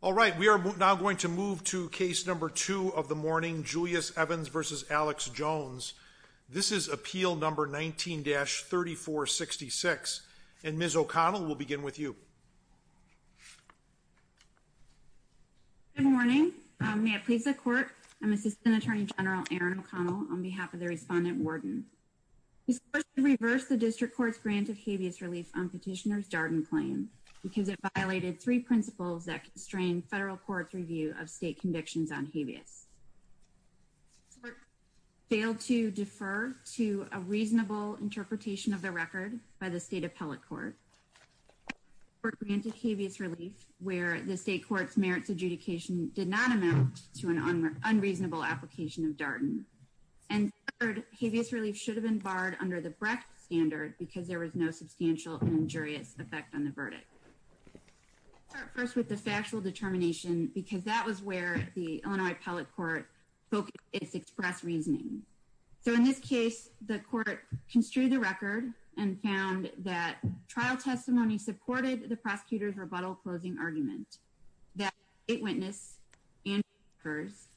All right we are now going to move to case number two of the morning Julius Evans versus Alex Jones. This is appeal number 19-3466 and Ms. O'Connell will begin with you. Good morning, may it please the court, I'm assistant attorney general Erin O'Connell on behalf of the respondent warden. This court should reverse the district court's grant of habeas relief on petitioner's Darden claim because it violated three principles that constrain federal court's review of state convictions on habeas. The court failed to defer to a reasonable interpretation of the record by the state appellate court. The court granted habeas relief where the state court's merits adjudication did not amount to an unreasonable application of Darden. And third, habeas relief should have been barred under the Brecht standard because there was no substantial injurious effect on the verdict. I'll start first with the factual determination because that was where the Illinois appellate court focused its express reasoning. So in this case the court construed the record and found that trial testimony supported the prosecutor's rebuttal closing argument that state witness and jurors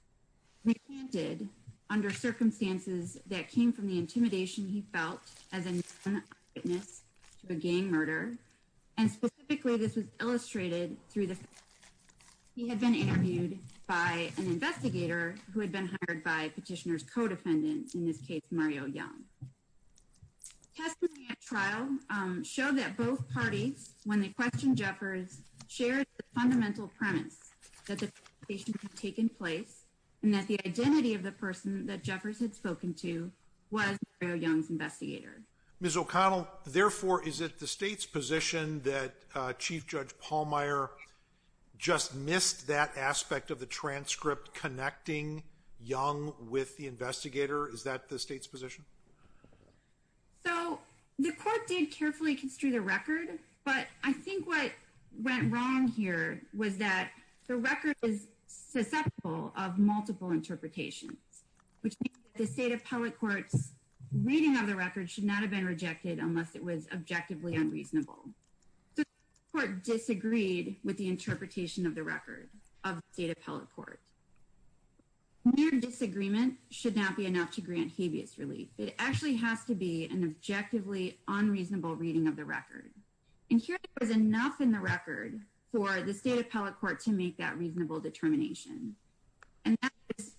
recanted under circumstances that came from the witness to a gang murder and specifically this was illustrated through the fact that he had been interviewed by an investigator who had been hired by petitioner's co-defendant, in this case Mario Young. Testimony at trial showed that both parties when they questioned Jeffers shared the fundamental premise that the perpetration had taken place and that the identity of the person that Jeffers had spoken to was Mario Young's investigator. Ms. O'Connell, therefore is it the state's position that Chief Judge Pallmeyer just missed that aspect of the transcript connecting Young with the investigator? Is that the state's position? So the court did carefully construe the record, but I think what went wrong here was that the record is susceptible of multiple interpretations, which means that the state appellate court's reading of the record should not have been rejected unless it was objectively unreasonable. So the court disagreed with the interpretation of the record of the state appellate court. Their disagreement should not be enough to grant habeas relief. It actually has to be an objectively unreasonable reading of the record. And here there was enough in the record for the state appellate court to make that reasonable determination. And that is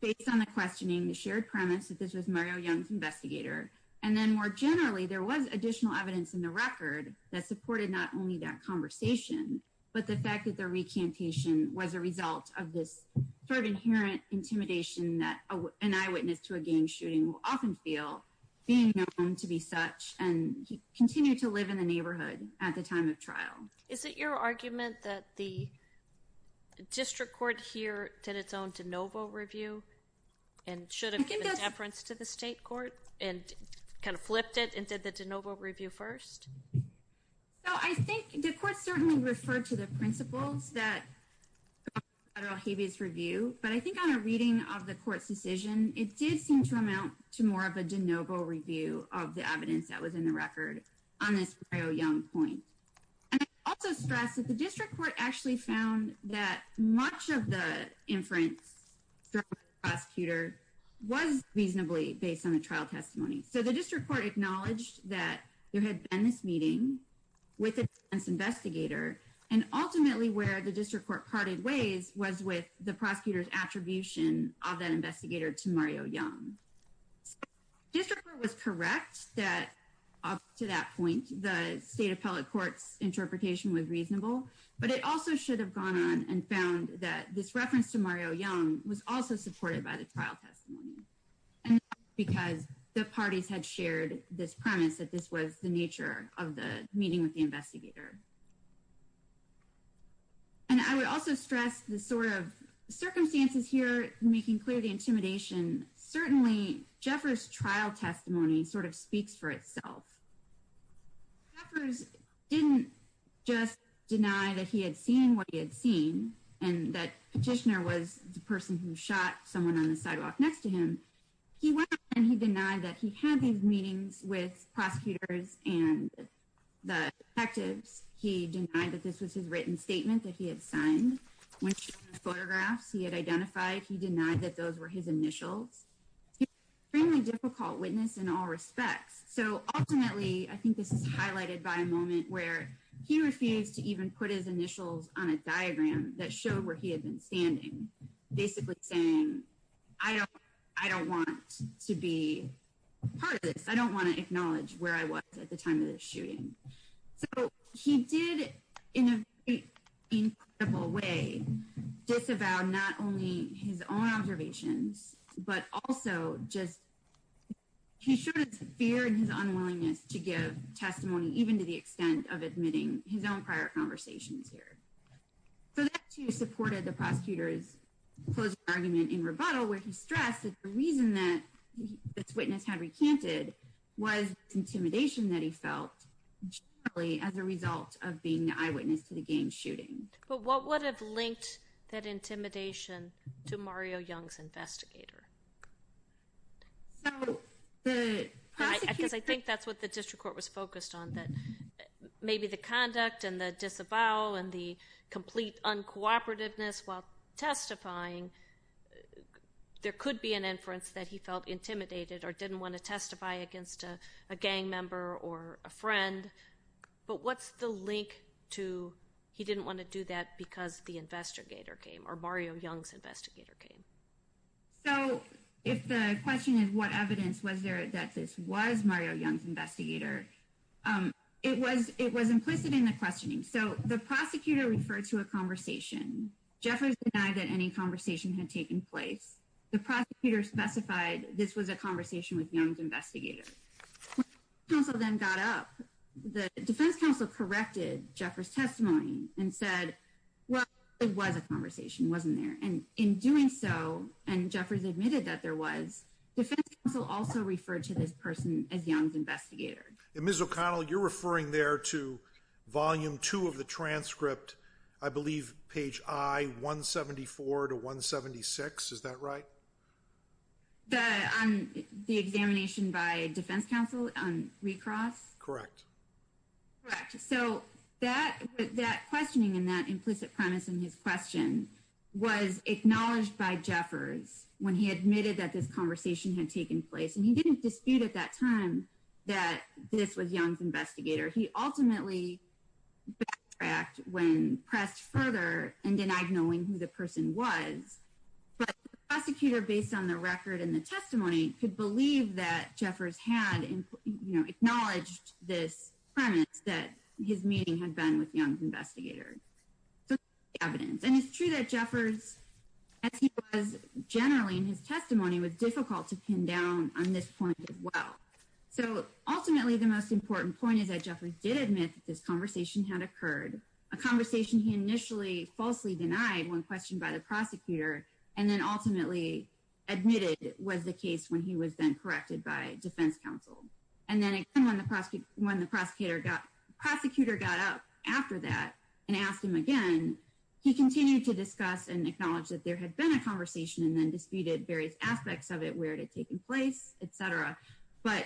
based on the questioning, the shared premise that this was Mario Young's investigator. And then more generally, there was additional evidence in the record that supported not only that conversation, but the fact that the recantation was a result of this sort of inherent intimidation that an eyewitness to a gang shooting will often feel being known to be such. And he continued to live in the neighborhood at the time of trial. Is it your argument that the district court here did its own de novo review and should have given deference to the state court and kind of flipped it and did the de novo review first? So I think the court certainly referred to the principles that federal habeas review, but I think on a reading of the court's decision, it did seem to amount to more of a de novo review of the evidence that was in the record on this Mario Young point. And I also stress that the district court actually found that much of the inference prosecutor was reasonably based on a trial testimony. So the district court acknowledged that there had been this meeting with an investigator and ultimately where the district court parted ways was with the prosecutor's attribution of that investigator to Mario Young. District court was correct that up to that point, the state appellate court's interpretation was reasonable, but it also should have gone on and found that this reference to Mario Young was also supported by the trial testimony. Because the parties had shared this premise that this was the nature of the meeting with the investigator. And I would also stress the sort of circumstances here, making clear the intimidation, certainly Jeffers' trial testimony sort of speaks for itself. Jeffers didn't just deny that he had seen what he had seen and that petitioner was the person who shot someone on the sidewalk next to him. He went and he denied that he had these meetings with prosecutors and the detectives. He denied that this was his written statement that he had signed. When he showed photographs he had identified, he denied that those were his initials. Extremely difficult witness in all respects. So ultimately, I think this is highlighted by a moment where he refused to even put his initials on a diagram that showed where he had been standing. Basically saying, I don't, I don't want to be part of this. I don't want to acknowledge where I was at the time of the shooting. So he did, in a very incredible way, disavow not only his own observations, but also just, he showed his fear and his unwillingness to give testimony, even to the extent of admitting his own prior conversations here. So that, too, supported the prosecutor's closed argument in rebuttal, where he stressed that the reason that this witness had recanted was intimidation that he felt as a result of being the eyewitness to the game shooting. But what would have linked that intimidation to Mario Young's investigator? So, the prosecutor. Because I think that's what the district court was focused on, that maybe the conduct and the disavow and the complete uncooperativeness while testifying, there could be an inference that he felt intimidated or didn't want to testify against a gang member or a friend. But what's the link to he didn't want to do that because the investigator came or Mario Young's investigator came? So, if the question is what evidence was there that this was Mario Young's investigator, it was implicit in the questioning. So, the prosecutor referred to a conversation. Jeffers denied that any conversation had taken place. The prosecutor specified this was a conversation with Young's investigator. When the defense counsel then got up, the defense counsel corrected Jeffers' testimony and said, well, it was a conversation, it wasn't there. And in doing so, and Jeffers admitted that there was, the defense counsel also referred to this person as Young's investigator. Ms. O'Connell, you're referring there to volume two of the transcript, I believe, page I, 174 to 176, is that right? The examination by defense counsel on recross? Correct. So, that questioning and that implicit premise in his question was acknowledged by Jeffers when he admitted that this conversation had taken place. And he didn't dispute at that time that this was Young's investigator. He ultimately backtracked when pressed further and denied knowing who the person was. But the prosecutor, based on the record and the testimony, could believe that Jeffers had, you know, acknowledged this premise that his meeting had been with Young's investigator. So, that's the evidence. And it's true that Jeffers, as he was generally in his testimony, was difficult to pin down on this point as well. So, ultimately, the most important point is that Jeffers did admit that this conversation had occurred. A conversation he initially falsely denied when questioned by the prosecutor and then ultimately admitted was the case when he was then corrected by defense counsel. And then again, when the prosecutor got up after that and asked him again, he continued to discuss and acknowledge that there had been a conversation and then disputed various aspects of it, where it had taken place, etc. But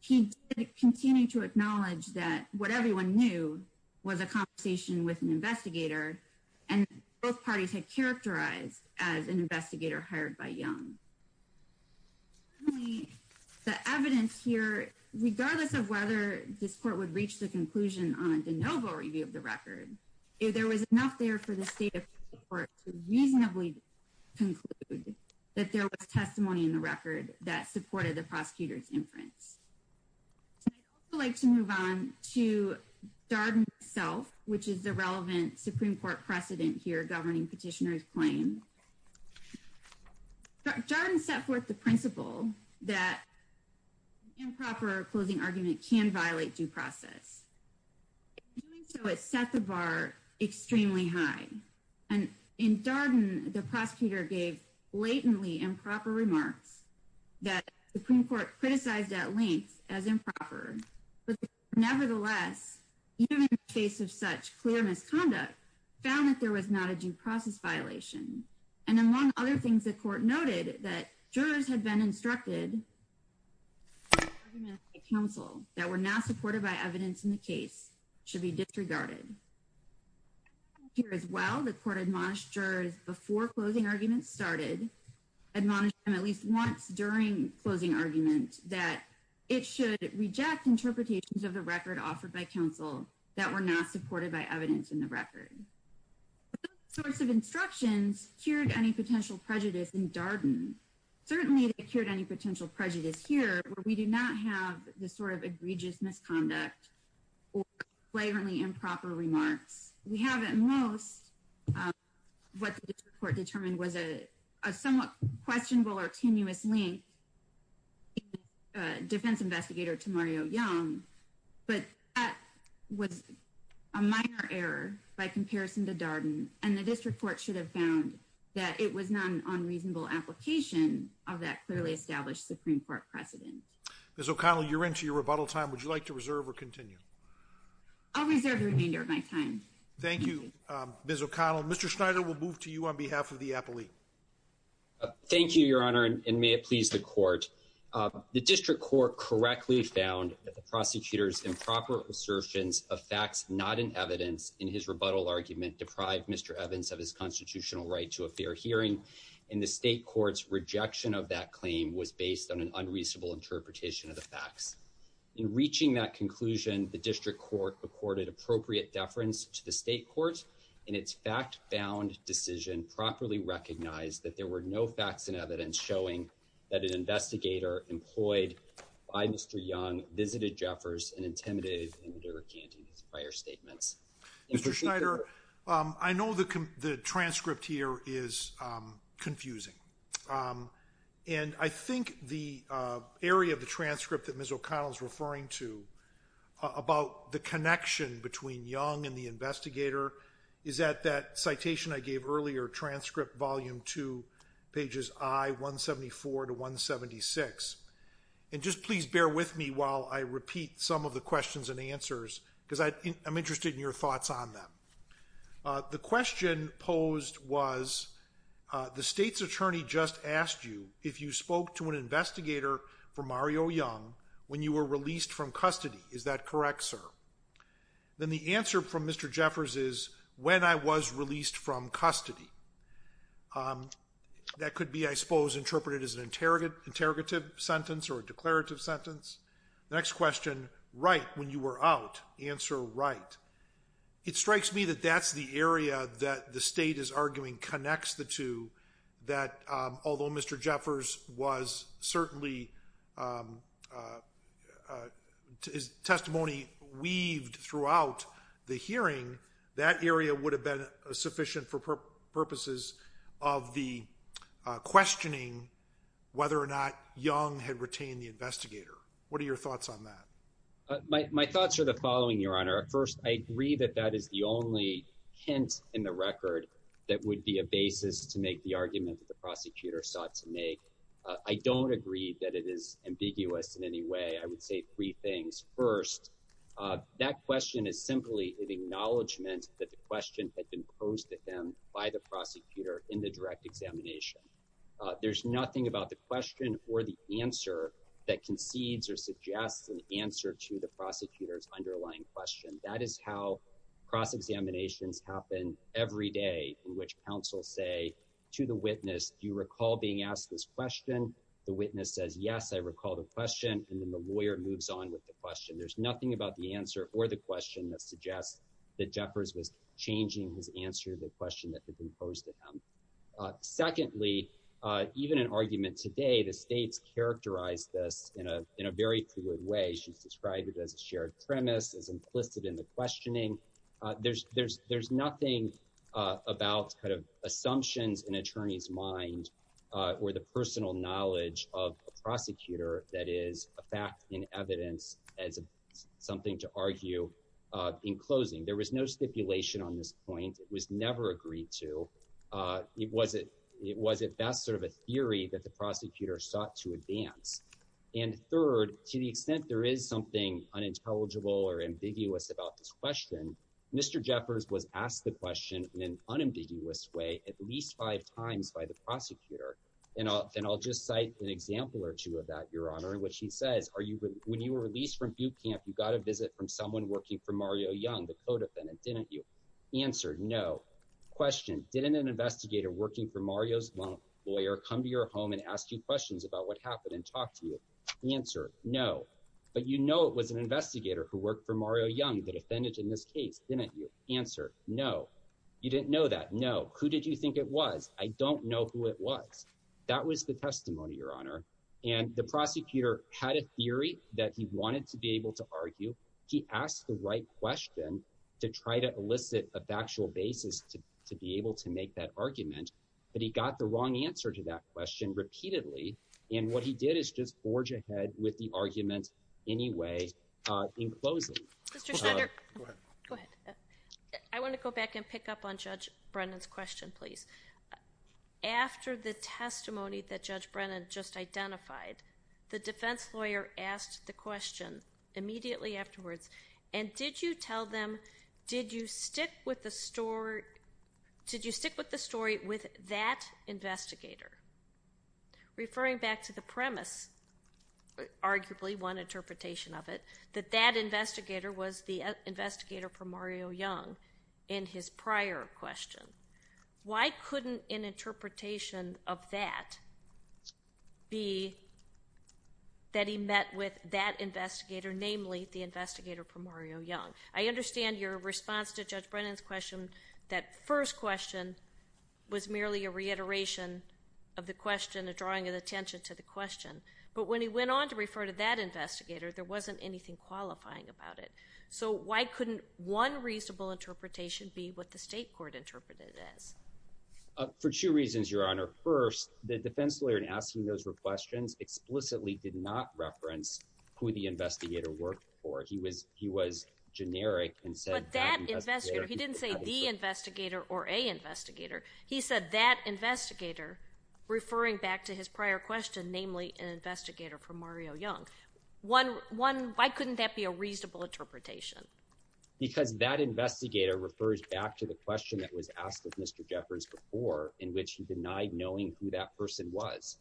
he continued to acknowledge that what everyone knew was a conversation with an investigator. And both parties had characterized as an investigator hired by Young. Finally, the evidence here, regardless of whether this court would reach the conclusion on a de novo review of the record, if there was enough there for the state of the court to reasonably conclude that there was testimony in the record that supported the prosecutor's inference. I'd also like to move on to Darden himself, which is the relevant Supreme Court precedent here governing petitioner's claim. Darden set forth the principle that improper closing argument can violate due process. In doing so, it set the bar extremely high. And in Darden, the prosecutor gave blatantly improper remarks that the Supreme Court criticized at length as improper. Nevertheless, even in the face of such clear misconduct, found that there was not a due process violation. And among other things, the court noted that jurors had been instructed by counsel that were not supported by evidence in the case should be disregarded. Here as well, the court admonished jurors before closing argument started, admonished them at least once during closing argument, that it should reject interpretations of the record offered by counsel that were not supported by evidence in the record. Those sorts of instructions cured any potential prejudice in Darden. Certainly, they cured any potential prejudice here where we do not have the sort of egregious misconduct or flagrantly improper remarks. We have at most what the court determined was a somewhat questionable or tenuous link in the defense investigator to Mario Young. But that was a minor error by comparison to Darden. And the district court should have found that it was not an unreasonable application of that clearly established Supreme Court precedent. Ms. O'Connell, you're into your rebuttal time. Would you like to reserve or continue? I'll reserve the remainder of my time. Thank you, Ms. O'Connell. Mr. Schneider, we'll move to you on behalf of the appellee. Thank you, Your Honor, and may it please the court. The district court correctly found that the prosecutor's improper assertions of facts not in evidence in his rebuttal argument deprived Mr. Evans of his constitutional right to a fair hearing. And the state court's rejection of that claim was based on an unreasonable interpretation of the facts. In reaching that conclusion, the district court accorded appropriate deference to the state court, and its fact-bound decision properly recognized that there were no facts and evidence showing that an investigator employed by Mr. Young visited Jeffers and intimidated him into recanting his prior statements. Mr. Schneider, I know the transcript here is confusing. And I think the area of the transcript that Ms. O'Connell is referring to about the connection between Young and the investigator is at that citation I gave earlier, transcript volume 2, pages I-174 to 176. And just please bear with me while I repeat some of the questions and answers, because I'm interested in your thoughts on them. The question posed was, the state's attorney just asked you if you spoke to an investigator for Mario Young when you were released from custody. Is that correct, sir? Then the answer from Mr. Jeffers is, when I was released from custody. That could be, I suppose, interpreted as an interrogative sentence or a declarative sentence. Next question, right when you were out. Answer, right. It strikes me that that's the area that the state is arguing connects the two, that although Mr. Jeffers was certainly testimony weaved throughout the hearing, that area would have been sufficient for purposes of the questioning whether or not Young had retained the investigator. What are your thoughts on that? My thoughts are the following, Your Honor. First, I agree that that is the only hint in the record that would be a basis to make the argument that the prosecutor sought to make. I don't agree that it is ambiguous in any way. I would say three things. First, that question is simply an acknowledgment that the question had been posed to him by the prosecutor in the direct examination. There's nothing about the question or the answer that concedes or suggests an answer to the prosecutor's underlying question. That is how cross-examinations happen every day in which counsel say to the witness, do you recall being asked this question? The witness says, yes, I recall the question. And then the lawyer moves on with the question. There's nothing about the answer or the question that suggests that Jeffers was changing his answer to the question that had been posed to him. Secondly, even in argument today, the states characterize this in a very fluid way. She's described it as a shared premise, as implicit in the questioning. There's nothing about kind of assumptions in an attorney's mind or the personal knowledge of a prosecutor that is a fact in evidence as something to argue in closing. There was no stipulation on this point. It was never agreed to. It was at best sort of a theory that the prosecutor sought to advance. And third, to the extent there is something unintelligible or ambiguous about this question, Mr. Jeffers was asked the question in an unambiguous way at least five times by the prosecutor. And I'll just cite an example or two of that, Your Honor, in which he says, when you were released from boot camp, you got a visit from someone working for Mario Young, the code defendant, didn't you? Answer, no. Question, didn't an investigator working for Mario's lawyer come to your home and ask you questions about what happened and talk to you? Answer, no. But you know it was an investigator who worked for Mario Young, the defendant in this case, didn't you? Answer, no. You didn't know that? No. Who did you think it was? I don't know who it was. That was the testimony, Your Honor. And the prosecutor had a theory that he wanted to be able to argue. He asked the right question to try to elicit a factual basis to be able to make that argument. But he got the wrong answer to that question repeatedly. And what he did is just forge ahead with the argument anyway in closing. Mr. Schneider. Go ahead. Go ahead. I want to go back and pick up on Judge Brennan's question, please. After the testimony that Judge Brennan just identified, the defense lawyer asked the question immediately afterwards, and did you tell them, did you stick with the story with that investigator? Referring back to the premise, arguably one interpretation of it, that that investigator was the investigator for Mario Young in his prior question. Why couldn't an interpretation of that be that he met with that investigator, namely the investigator for Mario Young? I understand your response to Judge Brennan's question, that first question, was merely a reiteration of the question, a drawing of attention to the question. But when he went on to refer to that investigator, there wasn't anything qualifying about it. So why couldn't one reasonable interpretation be what the state court interpreted it as? For two reasons, Your Honor. First, the defense lawyer in asking those questions explicitly did not reference who the investigator worked for. He was generic and said that investigator. But that investigator, he didn't say the investigator or a investigator. He said that investigator, referring back to his prior question, namely an investigator for Mario Young. Why couldn't that be a reasonable interpretation? Because that investigator refers back to the question that was asked of Mr. Jeffers before, in which he denied knowing who that person was.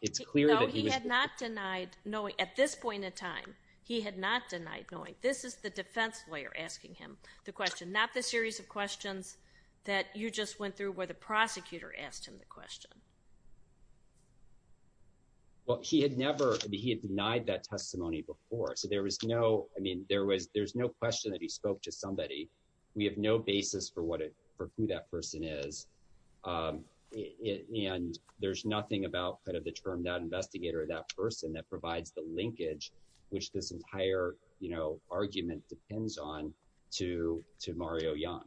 It's clear that he was. No, he had not denied knowing. At this point in time, he had not denied knowing. This is the defense lawyer asking him the question, not the series of questions that you just went through where the prosecutor asked him the question. Well, he had never he had denied that testimony before. So there was no I mean, there was there's no question that he spoke to somebody. We have no basis for what it for who that person is. And there's nothing about kind of the term that investigator, that person that provides the linkage, which this entire, you know, argument depends on to to Mario Young.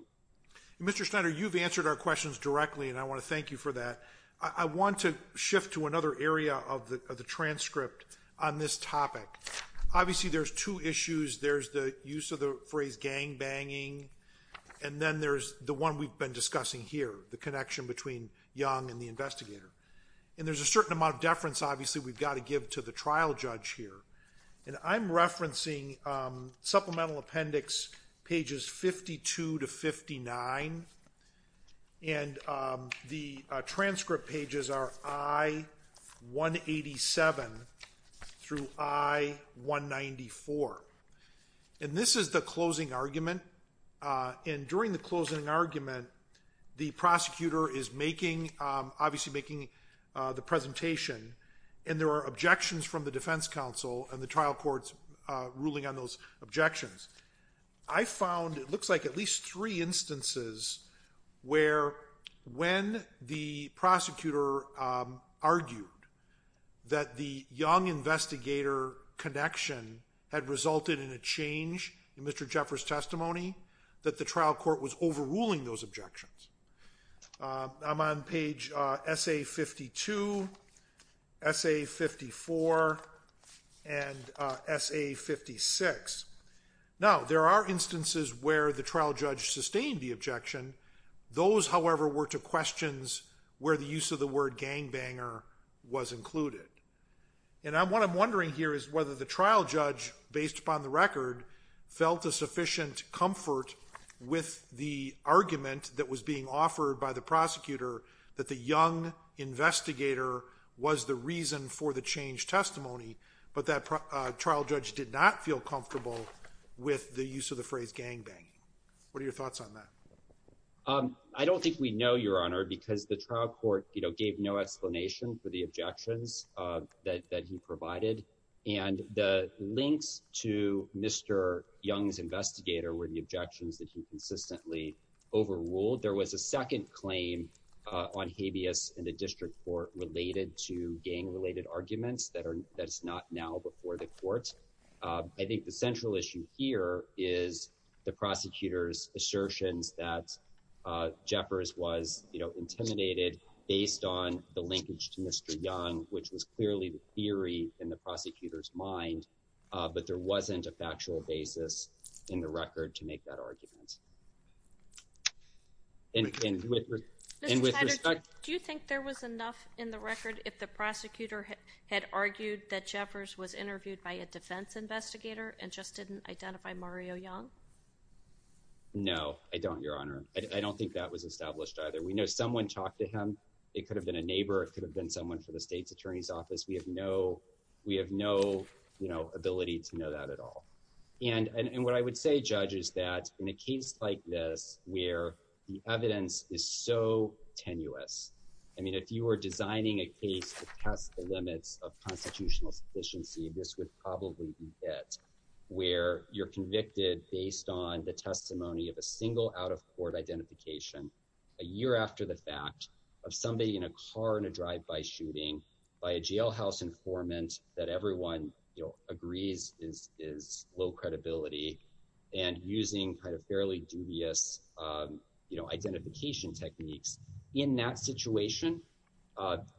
Mr. Schneider, you've answered our questions directly, and I want to thank you for that. I want to shift to another area of the transcript on this topic. Obviously, there's two issues. There's the use of the phrase gangbanging, and then there's the one we've been discussing here, the connection between Young and the investigator. And there's a certain amount of deference, obviously, we've got to give to the trial judge here. And I'm referencing supplemental appendix pages 52 to 59. And the transcript pages are I-187 through I-194. And this is the closing argument. And during the closing argument, the prosecutor is making obviously making the presentation, and there are objections from the defense counsel and the trial court's ruling on those objections. I found it looks like at least three instances where when the prosecutor argued that the Young-investigator connection had resulted in a change in Mr. Jeffers' testimony, that the trial court was overruling those objections. I'm on page SA-52, SA-54, and SA-56. Now, there are instances where the trial judge sustained the objection. Those, however, were to questions where the use of the word gangbanger was included. And what I'm wondering here is whether the trial judge, based upon the record, felt a sufficient comfort with the argument that was being offered by the prosecutor that the Young-investigator was the reason for the change testimony, but that trial judge did not feel comfortable with the use of the phrase gangbanging. What are your thoughts on that? I don't think we know, Your Honor, because the trial court gave no explanation for the objections that he provided. And the links to Mr. Young's investigator were the objections that he consistently overruled. There was a second claim on habeas in the district court related to gang-related arguments that is not now before the court. I think the central issue here is the prosecutor's assertions that Jeffers was intimidated based on the linkage to Mr. Young, which was clearly the theory in the prosecutor's mind, but there wasn't a factual basis in the record to make that argument. And with respect— Mr. Tiger, do you think there was enough in the record if the prosecutor had argued that Jeffers was interviewed by a defense investigator and just didn't identify Mario Young? No, I don't, Your Honor. I don't think that was established either. We know someone talked to him. It could have been a neighbor. It could have been someone from the state's attorney's office. We have no ability to know that at all. And what I would say, Judge, is that in a case like this where the evidence is so tenuous— I mean, if you were designing a case to test the limits of constitutional sufficiency, this would probably be it, where you're convicted based on the testimony of a single out-of-court identification a year after the fact of somebody in a car in a drive-by shooting by a jailhouse informant that everyone agrees is low credibility and using kind of fairly dubious identification techniques. In that situation,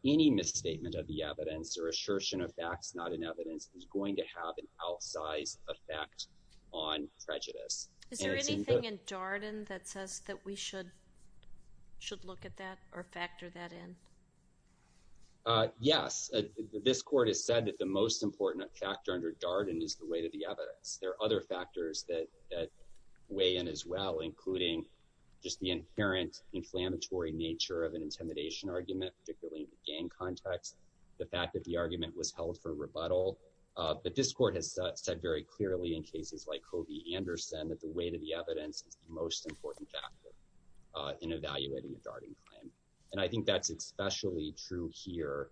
any misstatement of the evidence or assertion of facts not in evidence is going to have an outsized effect on prejudice. Is there anything in Darden that says that we should look at that or factor that in? Yes. This Court has said that the most important factor under Darden is the weight of the evidence. There are other factors that weigh in as well, including just the inherent inflammatory nature of an intimidation argument, particularly in the gang context, the fact that the argument was held for rebuttal. But this Court has said very clearly in cases like Kobe Anderson that the weight of the evidence is the most important factor in evaluating a Darden claim. And I think that's especially true here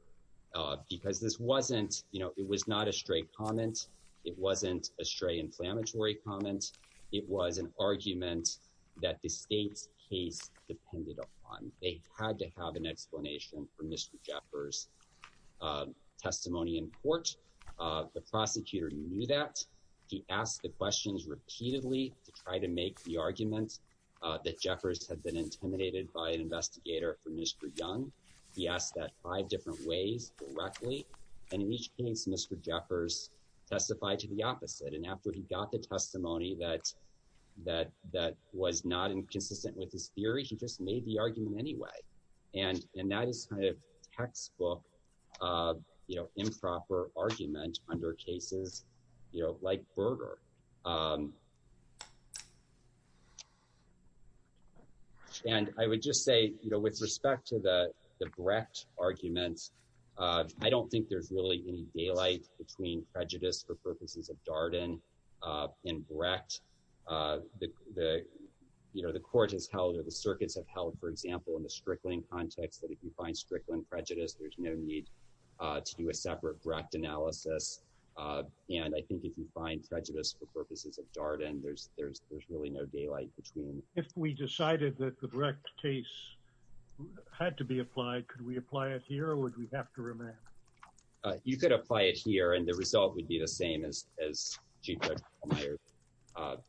because this wasn't— you know, it was not a stray comment. It wasn't a stray inflammatory comment. It was an argument that the state's case depended upon. They had to have an explanation for Mr. Jeffers' testimony in court. The prosecutor knew that. He asked the questions repeatedly to try to make the argument that Jeffers had been intimidated by an investigator for Mr. Young. He asked that five different ways directly. And in each case, Mr. Jeffers testified to the opposite. And after he got the testimony that was not consistent with his theory, he just made the argument anyway. And that is kind of textbook improper argument under cases like Berger. And I would just say, you know, with respect to the Brecht arguments, I don't think there's really any daylight between prejudice for purposes of Darden and Brecht. You know, the court has held or the circuits have held, for example, in the Strickland context that if you find Strickland prejudice, there's no need to do a separate Brecht analysis. And I think if you find prejudice for purposes of Darden, there's really no daylight between. If we decided that the Brecht case had to be applied, could we apply it here or would we have to remand? You could apply it here and the result would be the same as Chief Judge Meyer's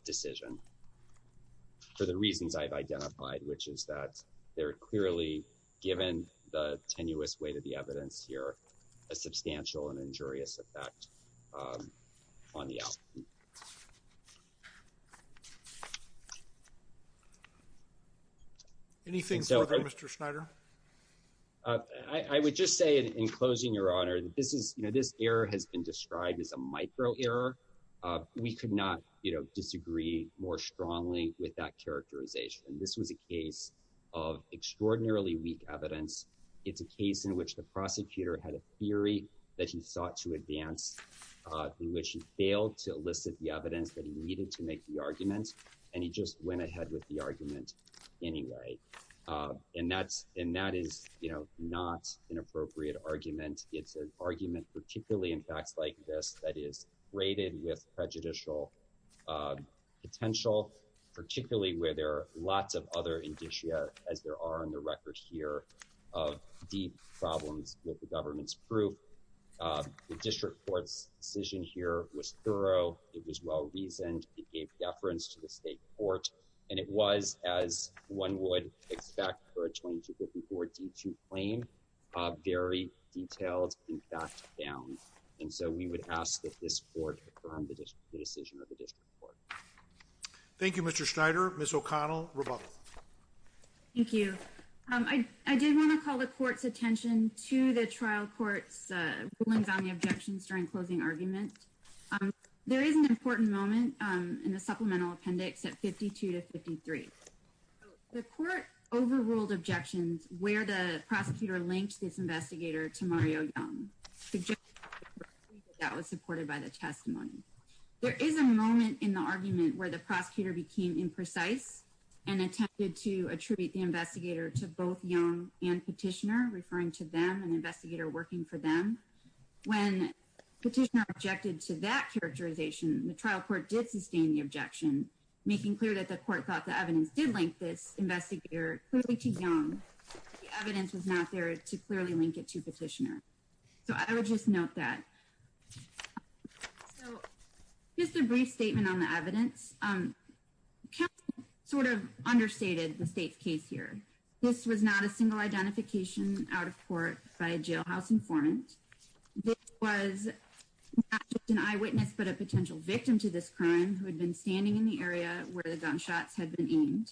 decision. For the reasons I've identified, which is that they're clearly given the tenuous weight of the evidence here, a substantial and injurious effect on the outcome. Anything further, Mr. Schneider? I would just say in closing, Your Honor, this is, you know, this error has been described as a micro error. We could not disagree more strongly with that characterization. This was a case of extraordinarily weak evidence. It's a case in which the prosecutor had a theory that he sought to advance, in which he failed to elicit the evidence that he needed to make the argument. And he just went ahead with the argument anyway. And that is, you know, not an appropriate argument. It's an argument, particularly in facts like this, that is rated with prejudicial potential, particularly where there are lots of other indicia, as there are on the record here, of deep problems with the government's proof. The district court's decision here was thorough. It was well-reasoned. It gave deference to the state court. And it was, as one would expect for a 2254 D2 claim, very detailed and fact-bound. And so we would ask that this court confirm the decision of the district court. Thank you, Mr. Schneider. Ms. O'Connell, rebuttal. Thank you. I did want to call the court's attention to the trial court's rulings on the objections during closing argument. There is an important moment in the supplemental appendix at 52-53. The court overruled objections where the prosecutor linked this investigator to Mario Young, suggesting that that was supported by the testimony. There is a moment in the argument where the prosecutor became imprecise and attempted to attribute the investigator to both Young and Petitioner, referring to them and the investigator working for them. When Petitioner objected to that characterization, the trial court did sustain the objection, making clear that the court thought the evidence did link this investigator clearly to Young. The evidence was not there to clearly link it to Petitioner. So I would just note that. So just a brief statement on the evidence. Counsel sort of understated the state's case here. This was not a single identification out of court by a jailhouse informant. This was not just an eyewitness, but a potential victim to this crime who had been standing in the area where the gunshots had been aimed.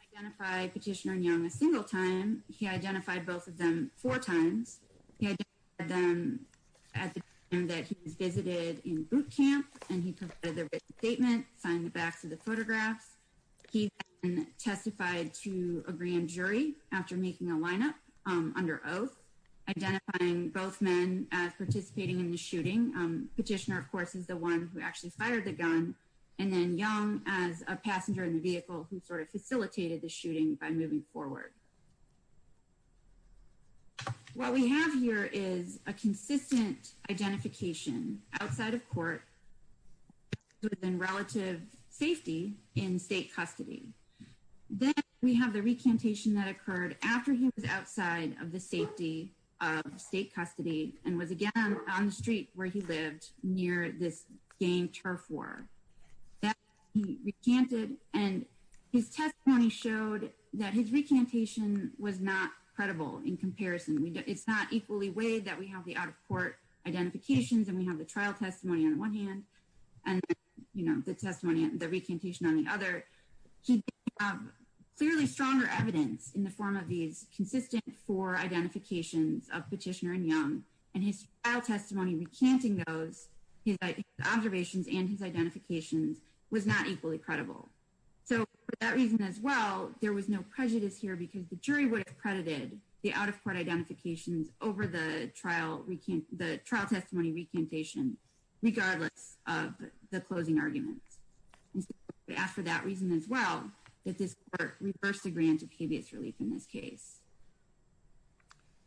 He did not identify Petitioner and Young a single time. He identified both of them four times. He identified them at the time that he was visited in boot camp, and he provided their written statement, signed the backs of the photographs. He testified to a grand jury after making a lineup under oath, identifying both men as participating in the shooting. Petitioner, of course, is the one who actually fired the gun, and then Young as a passenger in the vehicle who sort of facilitated the shooting by moving forward. What we have here is a consistent identification outside of court, but then relative safety in state custody. Then we have the recantation that occurred after he was outside of the safety of state custody and was again on the street where he lived near this gang turf war. He recanted and his testimony showed that his recantation was not credible in comparison. It's not equally weighed that we have the out of court identifications, and we have the trial testimony on one hand and the testimony, the recantation on the other. Clearly stronger evidence in the form of these consistent for identifications of Petitioner and Young and his trial testimony recanting those observations and his identifications was not equally credible. So for that reason as well, there was no prejudice here because the jury would have credited the out of court identifications over the trial testimony recantation, regardless of the closing arguments. We ask for that reason as well, that this court reversed the grant of habeas relief in this case.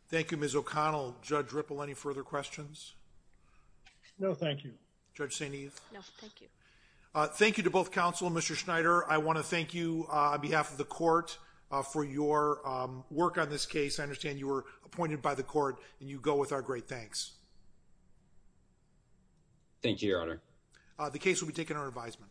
Thank you, Ms. O'Connell. Judge Ripple, any further questions? No, thank you. Judge St. Eve. No, thank you. Thank you to both counsel and Mr. Schneider. I want to thank you on behalf of the court for your work on this case. I understand you were appointed by the court and you go with our great thanks. Thank you, Your Honor. The case will be taken under advisement.